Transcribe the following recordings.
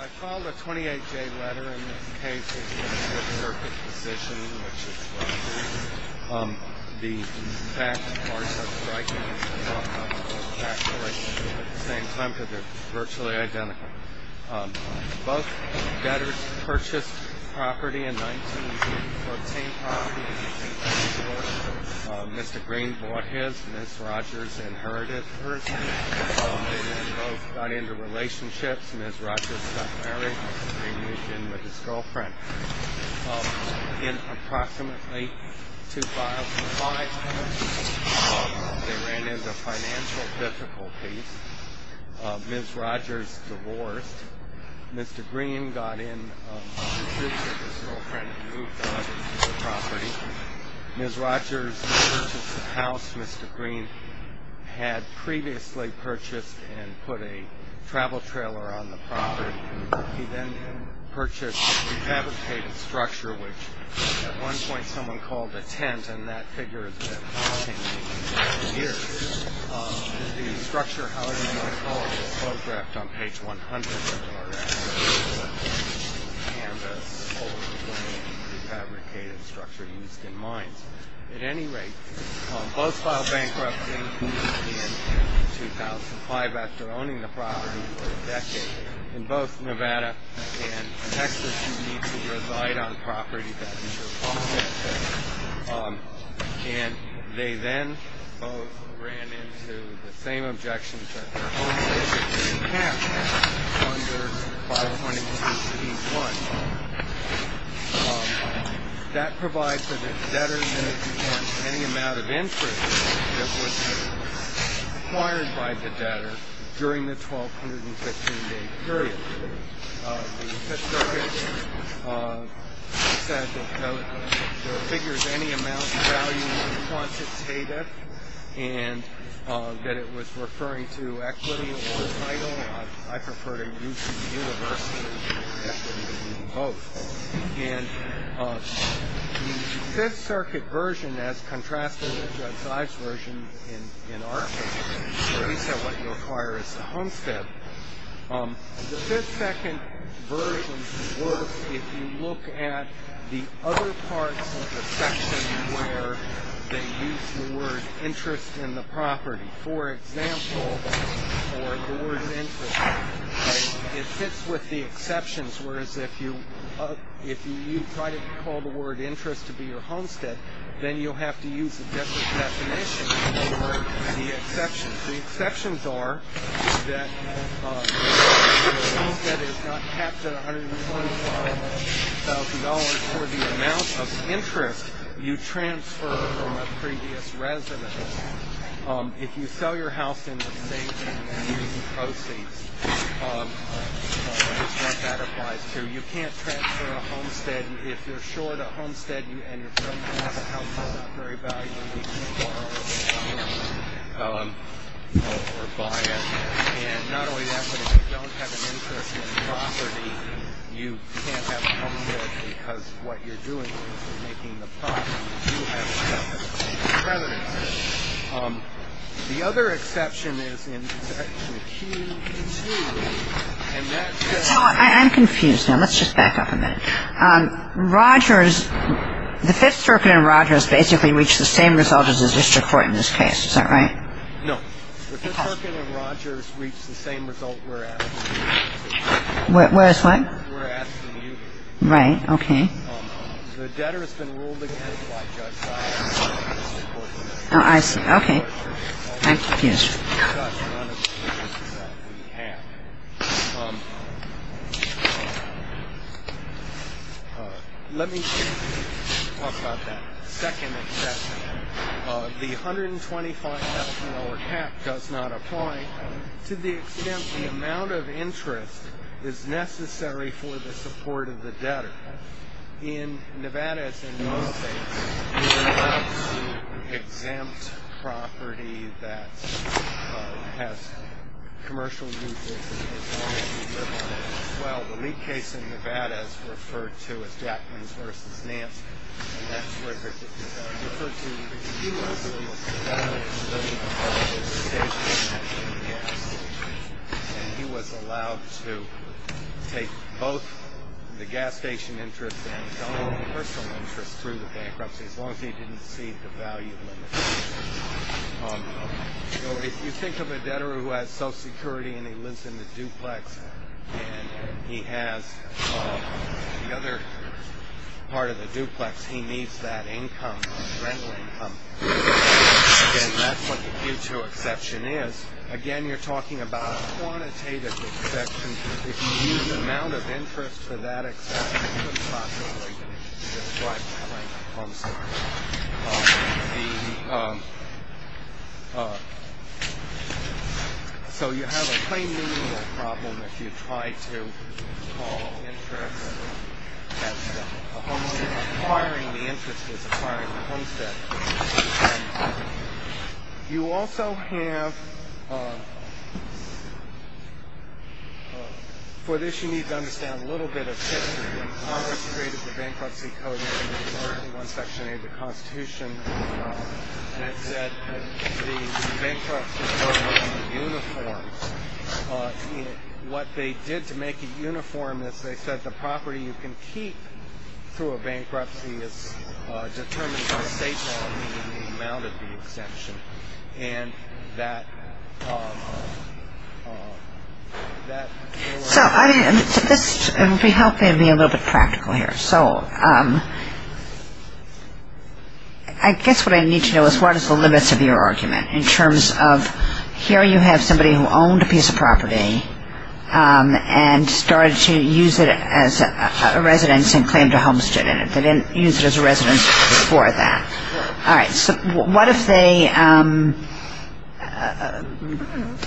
I filed a 28-J letter in this case, which is the circuit position, which is roughly the back part of striking and the front part of factoring at the same time, because they're virtually identical. Both debtors purchased property in 1914. Mr. Green bought his. Ms. Rogers inherited hers. They both got into relationships. Ms. Rogers got married. Mr. Green moved in with his girlfriend. In approximately 2005, they ran into financial difficulties. Ms. Rogers divorced. Mr. Green got in a dispute with his girlfriend and moved out of the property. Ms. Rogers purchased the house. Mr. Green had previously purchased and put a travel trailer on the property. He then purchased a refabricated structure, which at one point someone called a tent, and that figure has been haunting me for years. The structure, however you want to call it, was photographed on page 100 of the photograph. It was a canvas, old frame, refabricated structure used in mines. At any rate, both filed bankruptcy in 2005. After owning the property for a decade, in both Nevada and Texas, you need to reside on property that is your property. And they then both ran into the same objections that their homes were being taxed under 520.16.1. That provides for the debtors that if you have any amount of interest that was acquired by the debtor during the 1215-day period. The Fifth Circuit said that no figure of any amount of value was quantitative and that it was referring to equity or title. I prefer to use the universe of equity than both. And the Fifth Circuit version, as contrasted with Judge Ives' version in our case, where he said what you acquire is a homestead, the Fifth Circuit version works if you look at the other parts of the section where they use the word interest in the property. For example, it fits with the exceptions, whereas if you try to call the word interest to be your homestead, then you'll have to use a different definition for the exceptions. The exceptions are that the homestead is not capped at $125,000 for the amount of interest you transfer from a previous residence. If you sell your house in the same year as the proceeds, that's what that applies to. The other exception is in Section Q2, and that says that you can't transfer a homestead if you're short a homestead and you're trying to have a house that's not very valuable because you borrowed it or bought it. And not only that, but if you don't have an interest in the property, you can't have a homestead because what you're doing is you're making the property. The other exception is in Section Q2, and that says- I'm confused now. Let's just back up a minute. Rogers, the Fifth Circuit and Rogers basically reach the same result as the district court in this case. Is that right? No. The Fifth Circuit and Rogers reach the same result, whereas- Whereas what? Whereas the new- Right. Okay. Oh, I see. Okay. I'm confused. Let me talk about that second exception. The $125,000 cap does not apply to the extent the amount of interest is necessary for the support of the debtor. In Nevada, it's in most states, you're allowed to exempt property that has commercial uses as long as you live on it. Well, the lead case in Nevada is referred to as Jackman's v. Nance, and that's referred to- And he was allowed to take both the gas station interest and his own personal interest through the bankruptcy as long as he didn't see the value of it. So if you think of a debtor who has Social Security and he lives in the duplex and he has the other part of the duplex, he needs that income, rental income, and that's what the due-to exception is. Again, you're talking about a quantitative exception. If you use the amount of interest for that exception, you could possibly describe it like a homestead. So you have a plain meaning of the problem if you try to call interest as a homestead. Acquiring the interest is acquiring the homestead. You also have- for this, you need to understand a little bit of history. Congress created the bankruptcy code in section 8 of the Constitution that said the bankruptcy code must be uniform. What they did to make it uniform is they said the property you can keep through a bankruptcy is determined by state law, meaning the amount of the exemption, and that- So this will help me be a little bit practical here. I guess what I need to know is what is the limits of your argument in terms of here you have somebody who owned a piece of property and started to use it as a residence and claimed a homestead in it. They didn't use it as a residence before that. All right, so what if they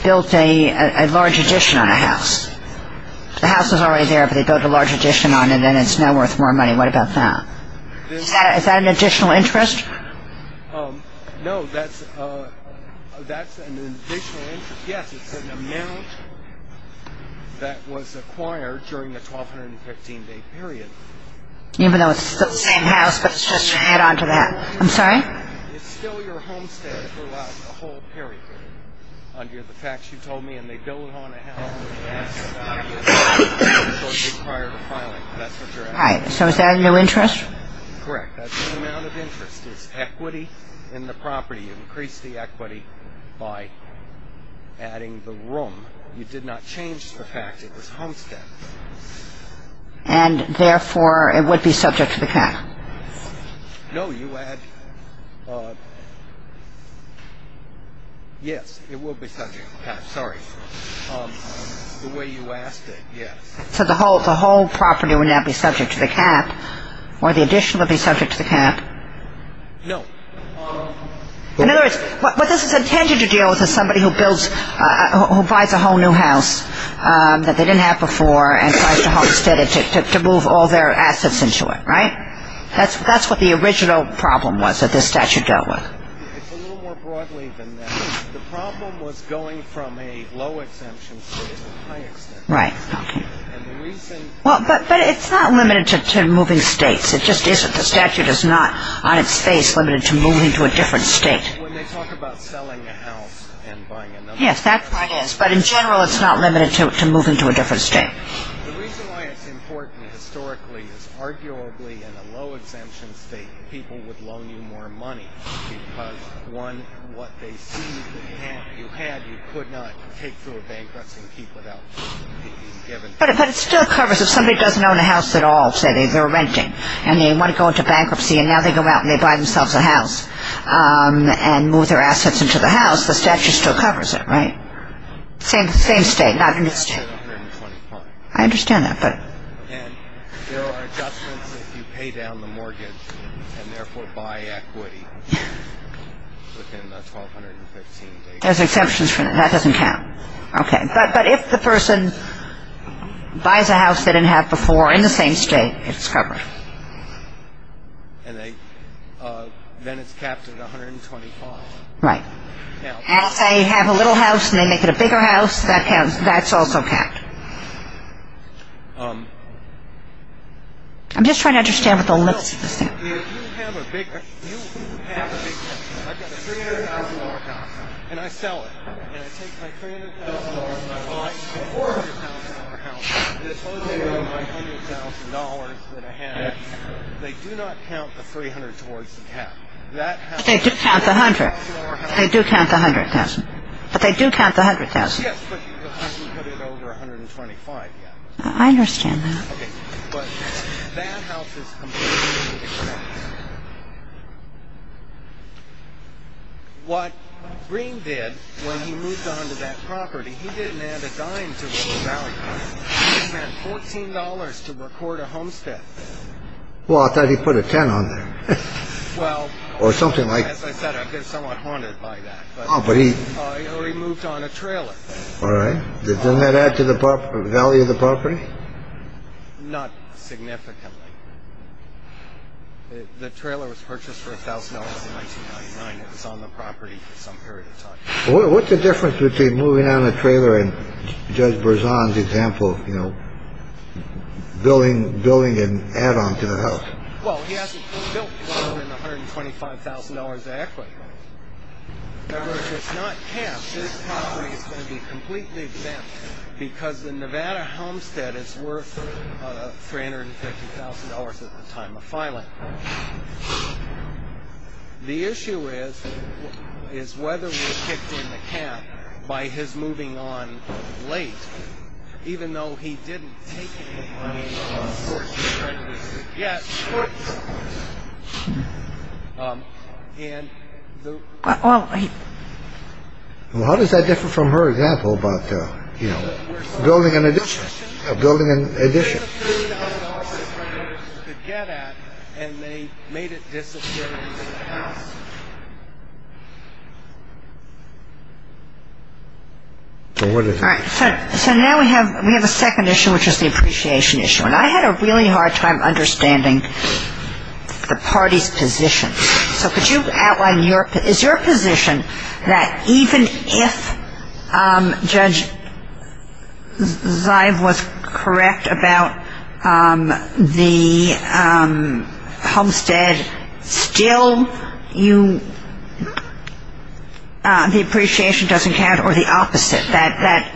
built a large addition on a house? The house is already there, but they built a large addition on it, and it's now worth more money. What about that? Is that an additional interest? No, that's an additional interest. Yes, it's an amount that was acquired during a 1,215-day period. Even though it's still the same house, but it's just added on to that. I'm sorry? It's still your homestead throughout the whole period, under the facts you told me, and they built it on a house. That's an obvious additional requirement of filing, but that's what you're asking. All right, so is that a new interest? Correct. That's an amount of interest. It's equity in the property. You increased the equity by adding the room. You did not change the fact it was homestead. And, therefore, it would be subject to the cap? No, you add – yes, it will be subject to the cap. Sorry. The way you asked it, yes. So the whole property would now be subject to the cap, or the addition would be subject to the cap? No. In other words, what this is intended to deal with is somebody who buys a whole new house that they didn't have before and tries to homestead it to move all their assets into it, right? That's what the original problem was that this statute dealt with. It's a little more broadly than that. The problem was going from a low-exemption to a high-exemption. Right, okay. But it's not limited to moving states. It just isn't. The statute is not, on its face, limited to moving to a different state. When they talk about selling a house and buying another house. Yes, that part is. But, in general, it's not limited to moving to a different state. The reason why it's important historically is, arguably, in a low-exemption state, people would loan you more money because, one, what they see that you had, you could not take through a bankruptcy and keep without being given – But it still covers – if somebody doesn't own a house at all, say, they're renting, and they want to go into bankruptcy, and now they go out and they buy themselves a house and move their assets into the house, the statute still covers it, right? Same state, not in this state. I understand that, but – And there are adjustments if you pay down the mortgage and therefore buy equity within the 1,215-day period. There's exemptions for that. That doesn't count. Okay. But if the person buys a house they didn't have before in the same state, it's covered. And then it's capped at 125. Right. Now, if they have a little house and they make it a bigger house, that's also capped. I'm just trying to understand what the limits of the statute are. You have a big house. I've got a $300,000 house, and I sell it. And I take my $300,000 and I buy a $400,000 house that's closer to my $100,000 than I have. They do not count the $300,000 towards the cap. But they do count the $100,000. They do count the $100,000. But they do count the $100,000. Yes, but you haven't put it over 125 yet. I understand that. Okay. But that house is completely exempt. What Green did when he moved on to that property, he didn't add a dime to the value. He spent $14 to record a homestead. Well, I thought he put a 10 on there. Well. Or something like. As I said, I've been somewhat haunted by that. Oh, but he. He moved on a trailer. All right. Doesn't that add to the value of the property? Not significantly. The trailer was purchased for $1,000 in 1999. It was on the property for some period of time. What's the difference between moving on a trailer and Judge Berzon's example, you know, building an add-on to the house? Well, he hasn't built more than $125,000 of equity. Now, if it's not capped, this property is going to be completely exempt because the Nevada homestead is worth $350,000 at the time of filing. The issue is whether we kicked in the cap by his moving on late, even though he didn't take any money from the search and rescue yet. Well, how does that differ from her example about, you know, building an addition, building an addition? So now we have we have a second issue, which is the appreciation issue. And I had a really hard time understanding the party's position. So could you outline your is your position that even if Judge Zive was correct about the homestead, still you the appreciation doesn't count or the opposite? I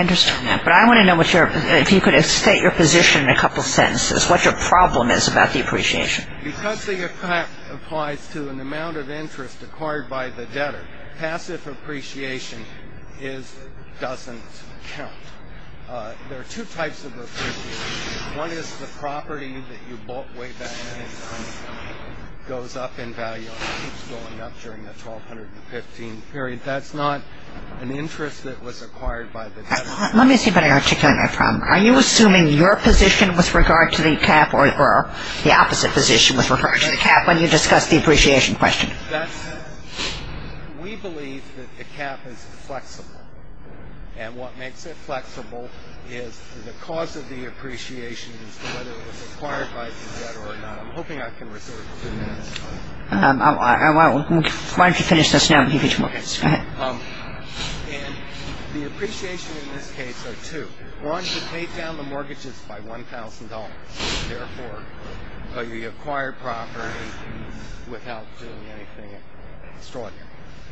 understand that. But I want to know if you could state your position in a couple of sentences, what your problem is about the appreciation. Because the cap applies to an amount of interest acquired by the debtor, passive appreciation doesn't count. There are two types of appreciation. One is passive appreciation. That is the property that you bought way back and it goes up in value and keeps going up during the 1215 period. That's not an interest that was acquired by the debtor. Let me see if I can articulate my problem. Are you assuming your position with regard to the cap or the opposite position with regard to the cap when you discuss the appreciation question? We believe that the cap is flexible. And what makes it flexible is the cause of the appreciation as to whether it was acquired by the debtor or not. I'm hoping I can resort to that. Why don't you finish this now and give me two more minutes. Go ahead. And the appreciation in this case are two. One is to take down the mortgages by $1,000. Therefore, the acquired property without doing anything extraordinary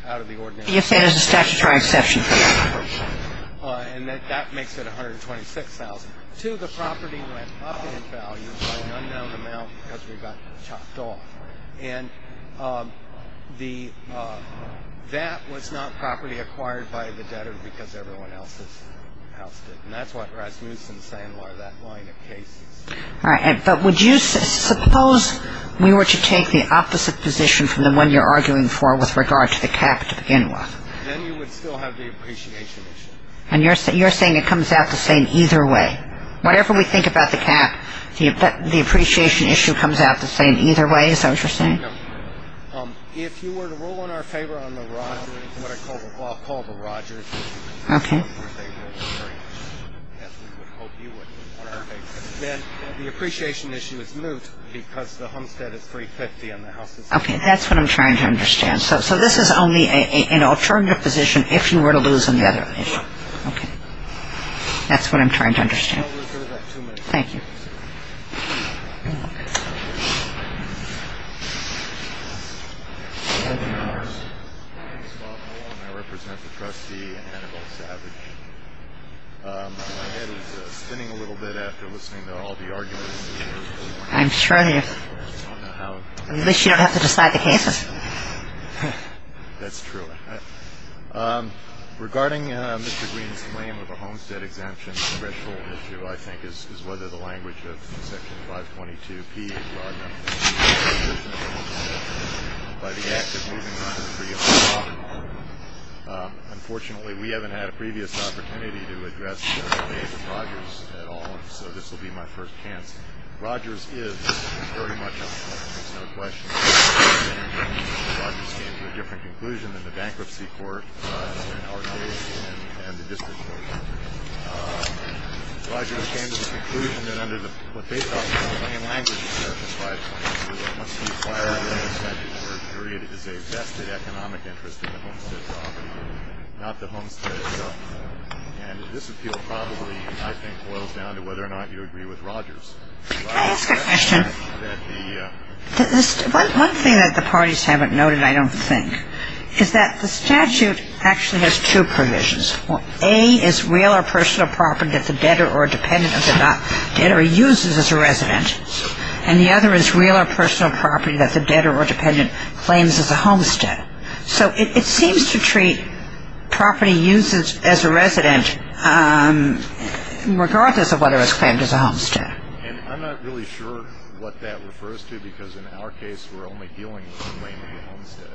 out of the ordinary. You're saying there's a statutory exception. And that makes it $126,000. Two, the property went up in value by an unknown amount because we got chopped off. And that was not property acquired by the debtor because everyone else's house did. And that's what Rasmussen's saying, why that line of cases. All right. But would you suppose we were to take the opposite position from the one you're arguing for with regard to the cap to begin with? Then you would still have the appreciation issue. And you're saying it comes out the same either way. Whatever we think about the cap, the appreciation issue comes out the same either way, is that what you're saying? No. If you were to rule in our favor on the Rodgers, what I call the Rodgers. Okay. Then the appreciation issue is moot because the homestead is $350,000 and the house is $150,000. Okay. That's what I'm trying to understand. So this is only an alternative position if you were to lose on the other issue. Okay. That's what I'm trying to understand. Thank you. Thank you. I'm sure you don't have to decide the cases. Unfortunately, we haven't had a previous opportunity to address the case of Rodgers at all. So this will be my first chance. Rodgers is very much a question. Rodgers came to a different conclusion than the bankruptcy court in our case and the district court. Rodgers came to the conclusion that under what they thought was the main language of Section 522, it must be acquired under the statute where the period is a vested economic interest in the homestead property, not the homestead itself. And this appeal probably, I think, boils down to whether or not you agree with Rodgers. Can I ask a question? One thing that the parties haven't noted, I don't think, is that the statute actually has two provisions. A is real or personal property that the debtor or dependent of the debtor uses as a resident, and the other is real or personal property that the debtor or dependent claims as a homestead. So it seems to treat property used as a resident regardless of whether it's claimed as a homestead. And I'm not really sure what that refers to because in our case we're only dealing with the claim to the homestead.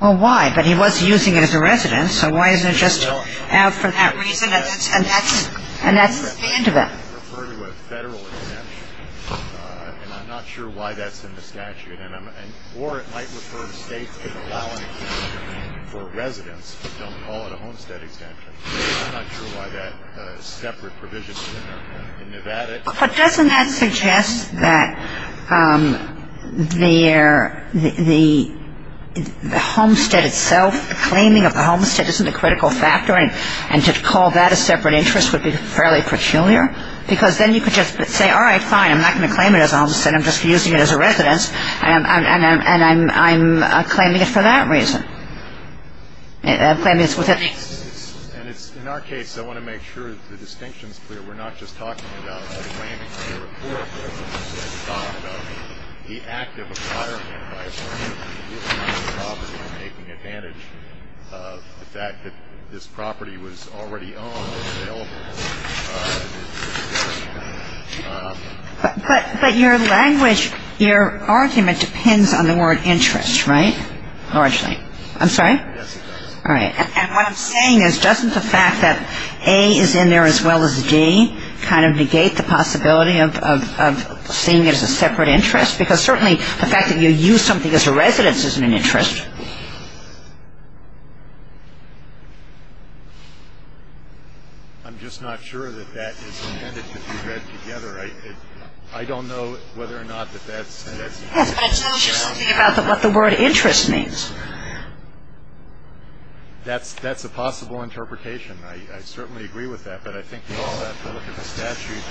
Well, why? But he was using it as a resident. So why isn't it just out for that reason? And that's the end of it. I refer to a federal exemption, and I'm not sure why that's in the statute. Or it might refer to states that allow an exemption for residents but don't call it a homestead exemption. I'm not sure why that separate provision is in Nevada. But doesn't that suggest that the homestead itself, claiming of the homestead isn't a critical factor, and to call that a separate interest would be fairly peculiar? Because then you could just say, all right, fine, I'm not going to claim it as a homestead, I'm just using it as a residence, and I'm claiming it for that reason. In our case, I want to make sure the distinction is clear. We're not just talking about claiming the report. We're talking about the act of acquiring the property and making advantage of the fact that this property was already owned or available to the person. But your language, your argument depends on the word interest, right? Or actually, I'm sorry? Yes, it does. All right. And what I'm saying is, doesn't the fact that A is in there as well as D kind of negate the possibility of seeing it as a separate interest? Because certainly the fact that you use something as a residence isn't an interest. I'm just not sure that that is intended to be read together. I don't know whether or not that that's the case. Yes, but it's not just something about what the word interest means. That's a possible interpretation. I certainly agree with that. But I think that if you look at the statute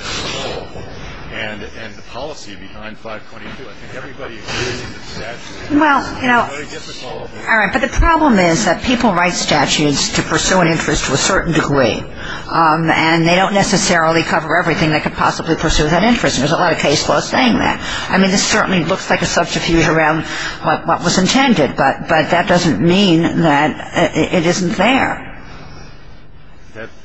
and the policy behind 522, I think everybody agrees with the statute. Well, you know, all right, but the problem is that people write statutes to pursue an interest to a certain degree, and they don't necessarily cover everything that could possibly pursue that interest, and there's a lot of case laws saying that. I mean, this certainly looks like a subterfuge around what was intended, but that doesn't mean that it isn't there.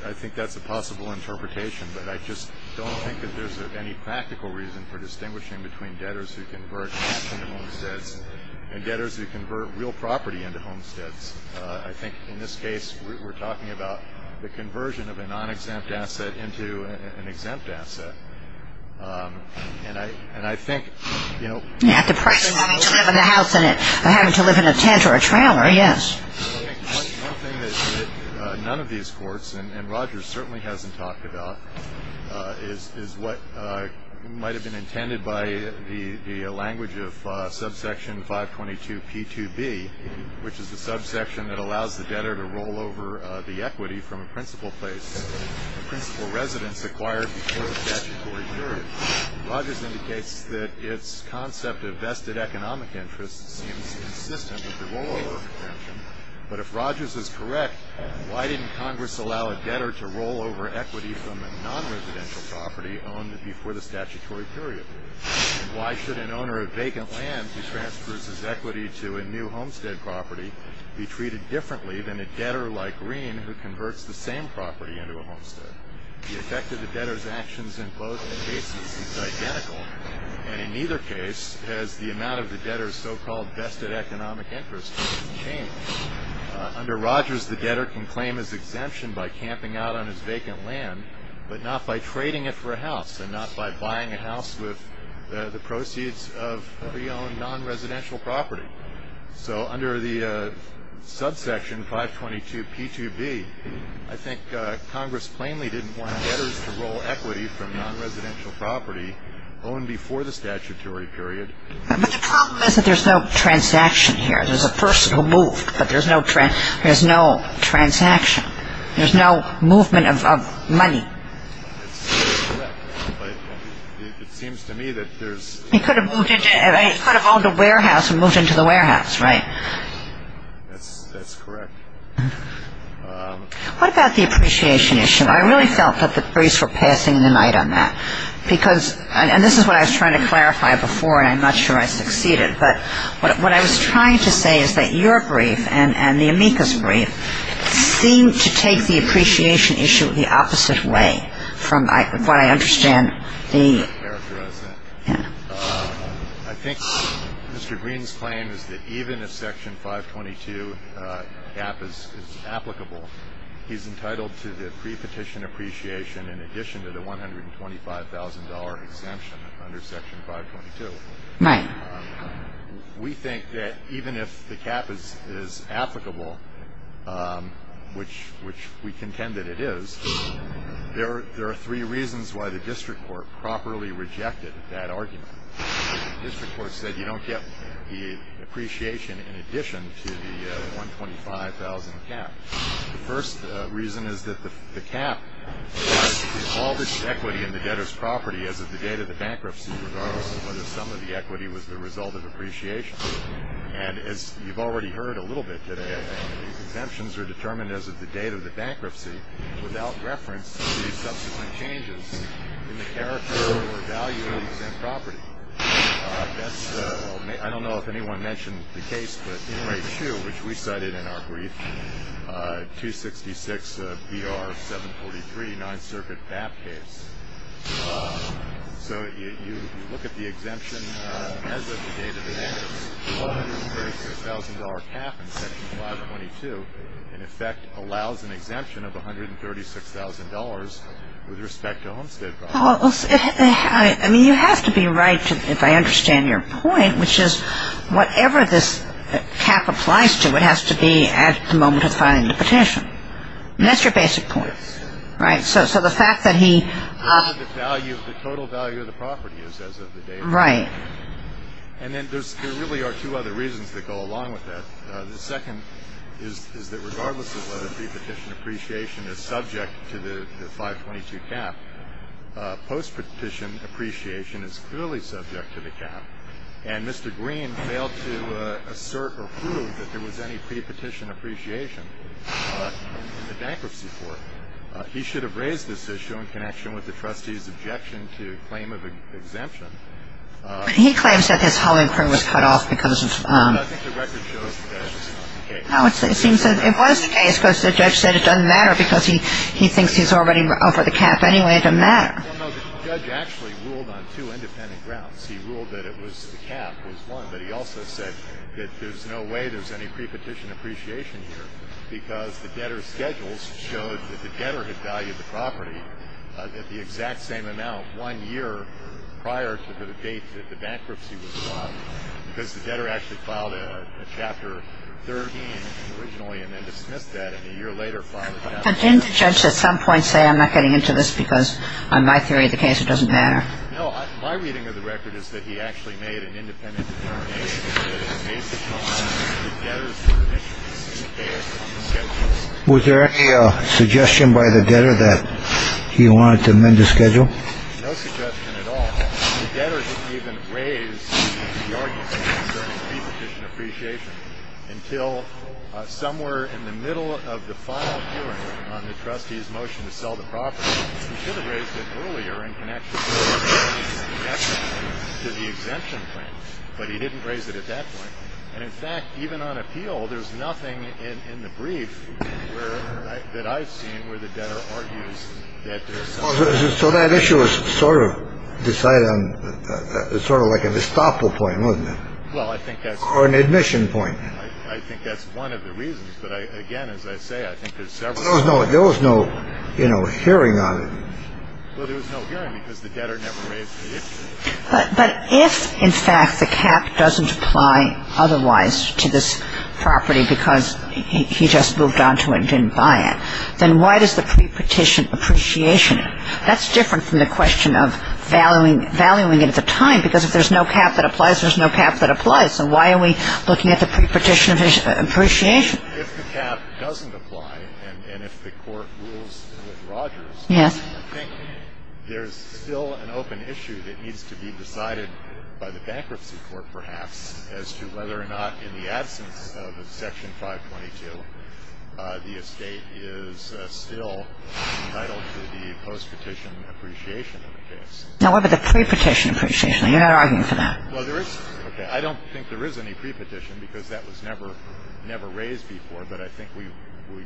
I think that's a possible interpretation, but I just don't think that there's any practical reason for distinguishing between debtors who convert property into homesteads and debtors who convert real property into homesteads. I think in this case we're talking about the conversion of a non-exempt asset into an exempt asset. And I think, you know. Yeah, the person having to live in a house and having to live in a tent or a trailer, yes. I think one thing that none of these courts, and Rogers certainly hasn't talked about, is what might have been intended by the language of subsection 522P2B, which is the subsection that allows the debtor to roll over the equity from a principal place. The principal residence acquired before the statutory period. Rogers indicates that its concept of vested economic interest seems consistent with the rollover convention. But if Rogers is correct, why didn't Congress allow a debtor to roll over equity from a non-residential property owned before the statutory period? And why should an owner of vacant land who transfers his equity to a new homestead property be treated differently than a debtor like Green who converts the same property into a homestead? The effect of the debtor's actions in both cases is identical. And in neither case has the amount of the debtor's so-called vested economic interest been changed. Under Rogers, the debtor can claim his exemption by camping out on his vacant land, but not by trading it for a house and not by buying a house with the proceeds of the owned non-residential property. So under the subsection 522P2B, I think Congress plainly didn't want debtors to roll equity from non-residential property owned before the statutory period. But the problem is that there's no transaction here. There's a person who moved, but there's no transaction. There's no movement of money. It seems to me that there's... He could have owned a warehouse and moved into the warehouse, right? That's correct. What about the appreciation issue? I really felt that the briefs were passing the night on that. And this is what I was trying to clarify before, and I'm not sure I succeeded. But what I was trying to say is that your brief and the amicus brief seem to take the appreciation issue the opposite way from what I understand the... I think Mr. Green's claim is that even if Section 522 gap is applicable, he's entitled to the prepetition appreciation in addition to the $125,000 exemption under Section 522. Right. We think that even if the gap is applicable, which we contend that it is, there are three reasons why the district court properly rejected that argument. The district court said you don't get the appreciation in addition to the $125,000 gap. The first reason is that the gap is all this equity in the debtor's property as of the date of the bankruptcy regardless of whether some of the equity was the result of appreciation. And as you've already heard a little bit today, the exemptions are determined as of the date of the bankruptcy without reference to the subsequent changes in the character or value of the exempt property. I don't know if anyone mentioned the case, but Inmate 2, which we cited in our brief, 266 BR 743, 9th Circuit BAP case. So if you look at the exemption as of the date of the bankruptcy, the $136,000 gap in Section 522 in effect allows an exemption of $136,000 with respect to homestead property. I mean, you have to be right if I understand your point, which is whatever this cap applies to, it has to be at the moment of filing the petition. And that's your basic point, right? So the fact that he- The total value of the property is as of the date of the bankruptcy. Right. And then there really are two other reasons that go along with that. The second is that regardless of whether pre-petition appreciation is subject to the 522 cap, post-petition appreciation is clearly subject to the cap. And Mr. Green failed to assert or prove that there was any pre-petition appreciation in the bankruptcy court. He should have raised this issue in connection with the trustee's objection to claim of exemption. But he claims that this whole inquiry was cut off because of- No, I think the record shows that it's not the case. No, it seems that it was the case because the judge said it doesn't matter because he thinks he's already over the cap anyway. It doesn't matter. Well, no, the judge actually ruled on two independent grounds. He ruled that it was the cap was one, but he also said that there's no way there's any pre-petition appreciation here because the debtor's schedules showed that the debtor had valued the property at the exact same amount one year prior to the date that the bankruptcy was filed. Because the debtor actually filed a Chapter 13 originally and then dismissed that and a year later filed a Chapter 13. But didn't the judge at some point say, I'm not getting into this because on my theory of the case it doesn't matter? No, my reading of the record is that he actually made an independent determination that it was based upon the debtor's permissions. Was there any suggestion by the debtor that he wanted to amend the schedule? No suggestion at all. The debtor didn't even raise the argument concerning pre-petition appreciation until somewhere in the middle of the final hearing on the trustee's motion to sell the property. He should have raised it earlier in connection to the exemption plan. But he didn't raise it at that point. And in fact, even on appeal, there's nothing in the brief that I've seen where the debtor argues that. So that issue is sort of decided on. It's sort of like an estoppel point, isn't it? Well, I think that's. Or an admission point. I think that's one of the reasons. But again, as I say, I think there's several reasons. There was no hearing on it. Well, there was no hearing because the debtor never raised the issue. But if, in fact, the cap doesn't apply otherwise to this property because he just moved on to it and didn't buy it, then why does the pre-petition appreciation it? That's different from the question of valuing it at the time because if there's no cap that applies, there's no cap that applies. So why are we looking at the pre-petition appreciation? If the cap doesn't apply and if the court rules with Rogers, I think there's still an open issue that needs to be decided by the bankruptcy court, perhaps, as to whether or not in the absence of Section 522 the estate is still entitled to the post-petition appreciation in the case. Now, what about the pre-petition appreciation? You're not arguing for that. Well, there is. I don't think there is any pre-petition because that was never raised before. But I think we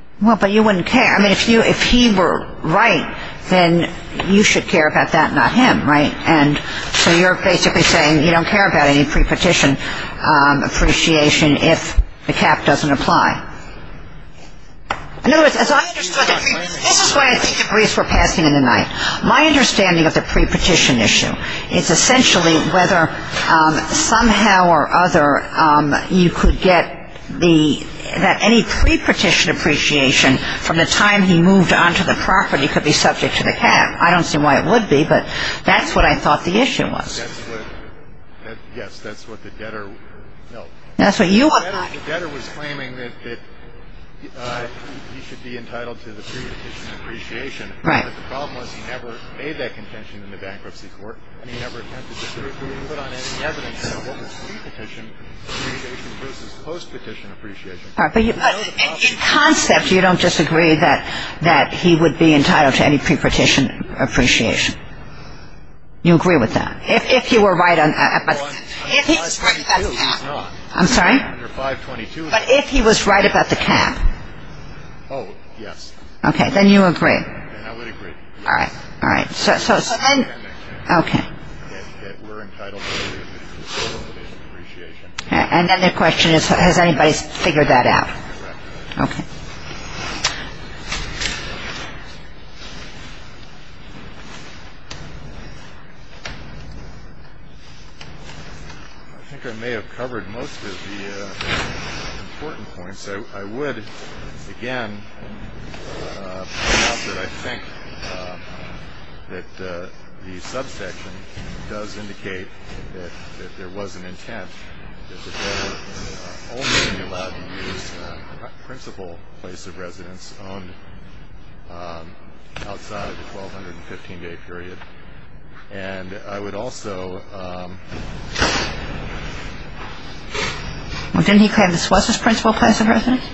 – Well, but you wouldn't care. I mean, if he were right, then you should care about that, not him, right? And so you're basically saying you don't care about any pre-petition appreciation if the cap doesn't apply. In other words, as I understood it – this is why I think the briefs were passing in the night. My understanding of the pre-petition issue is essentially whether somehow or other you could get the – that any pre-petition appreciation from the time he moved onto the property could be subject to the cap. I don't see why it would be, but that's what I thought the issue was. Yes, that's what the debtor – no. That's what you – The debtor was claiming that he should be entitled to the pre-petition appreciation. Right. The problem was he never made that contention in the bankruptcy court, and he never attempted to put on any evidence what was pre-petition appreciation versus post-petition appreciation. But in concept, you don't disagree that he would be entitled to any pre-petition appreciation. You agree with that? If he were right on – Well, under 522, he's not. I'm sorry? Under 522, no. But if he was right about the cap. Oh, yes. Okay. Then you agree. Then I would agree. All right. All right. So then – Okay. That we're entitled to the pre-petition appreciation. And then the question is, has anybody figured that out? Correct. Okay. I think I may have covered most of the important points. I would, again, point out that I think that the subsection does indicate that there was an intent, that they were only allowed to use a principal place of residence owned outside the 1,215-day period. And I would also – Well, didn't he claim this was his principal place of residence?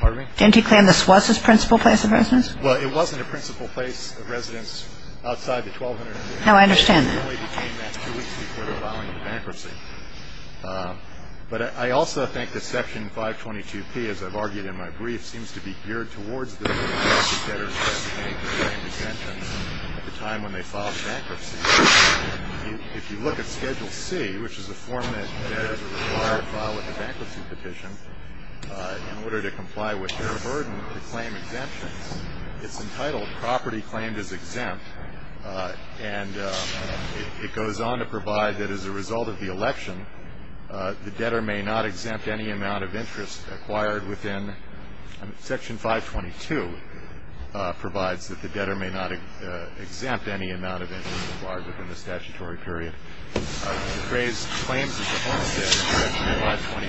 Pardon me? Didn't he claim this was his principal place of residence? Well, it wasn't a principal place of residence outside the 1,215-day period. No, I understand that. It only became that two weeks before the filing of bankruptcy. But I also think that Section 522P, as I've argued in my brief, seems to be geared towards the debtors who have to pay the same exemptions at the time when they filed bankruptcy. If you look at Schedule C, which is the form that debtors are required to file with the bankruptcy petition in order to comply with their burden to claim exemptions, it's entitled Property Claimed as Exempt. And it goes on to provide that as a result of the election, the debtor may not exempt any amount of interest acquired within – provides that the debtor may not exempt any amount of interest acquired within the statutory period. The phrase Claims as a Home Debt, Section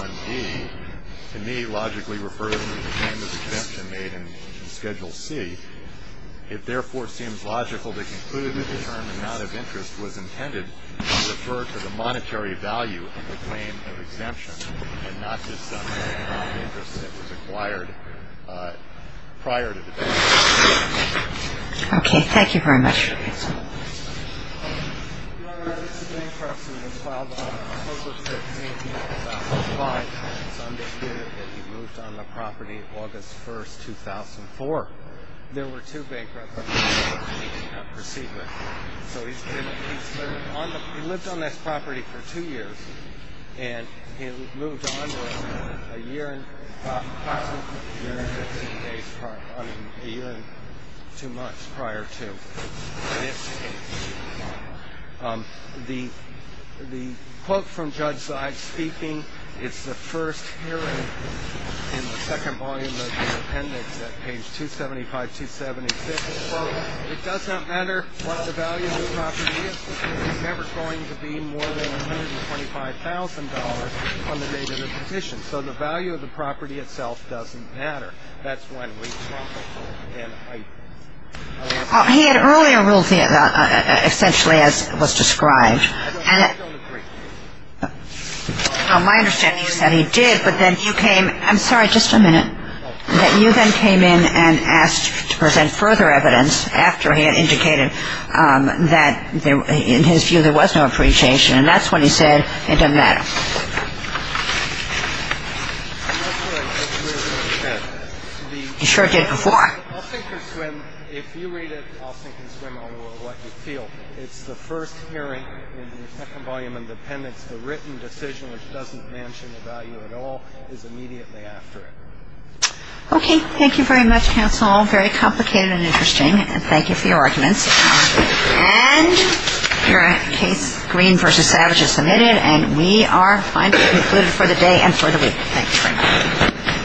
522P1D, to me logically refers to the claim of exemption made in Schedule C. It therefore seems logical to conclude that the term amount of interest was intended to refer to the monetary value of the claim of exemption and not just the amount of interest that was acquired prior to the date of the claim of exemption. Okay, thank you very much. Your Honor, this is bankruptcy. When filed on October 6th, 1895, it's understood that he moved on the property August 1st, 2004. There were two bankruptcy proceedings. So he's been – he's been on the – he lived on this property for two years and he moved on to a year and – possibly a year and 15 days prior – I mean, a year and two months prior to this case. The – the quote from Judge Zide speaking, it's the first hearing in the second volume of the appendix at page 275, 276. It does not matter what the value of the property is because it's never going to be more than $125,000 from the date of the petition. So the value of the property itself doesn't matter. That's when we talk about an item. He had earlier rules, essentially, as was described. I don't agree. My understanding is that he did, but then you came – I'm sorry, just a minute. That you then came in and asked to present further evidence after he had indicated that in his view there was no appreciation, and that's when he said it didn't matter. He sure did before. I'll sink or swim. If you read it, I'll sink or swim on what you feel. It's the first hearing in the second volume of the appendix. The written decision which doesn't mention the value at all is immediately after it. Okay. Thank you very much, counsel. Very complicated and interesting. And thank you for your arguments. And your case, Green v. Savage, is submitted, and we are finally concluded for the day and for the week. Thank you very much.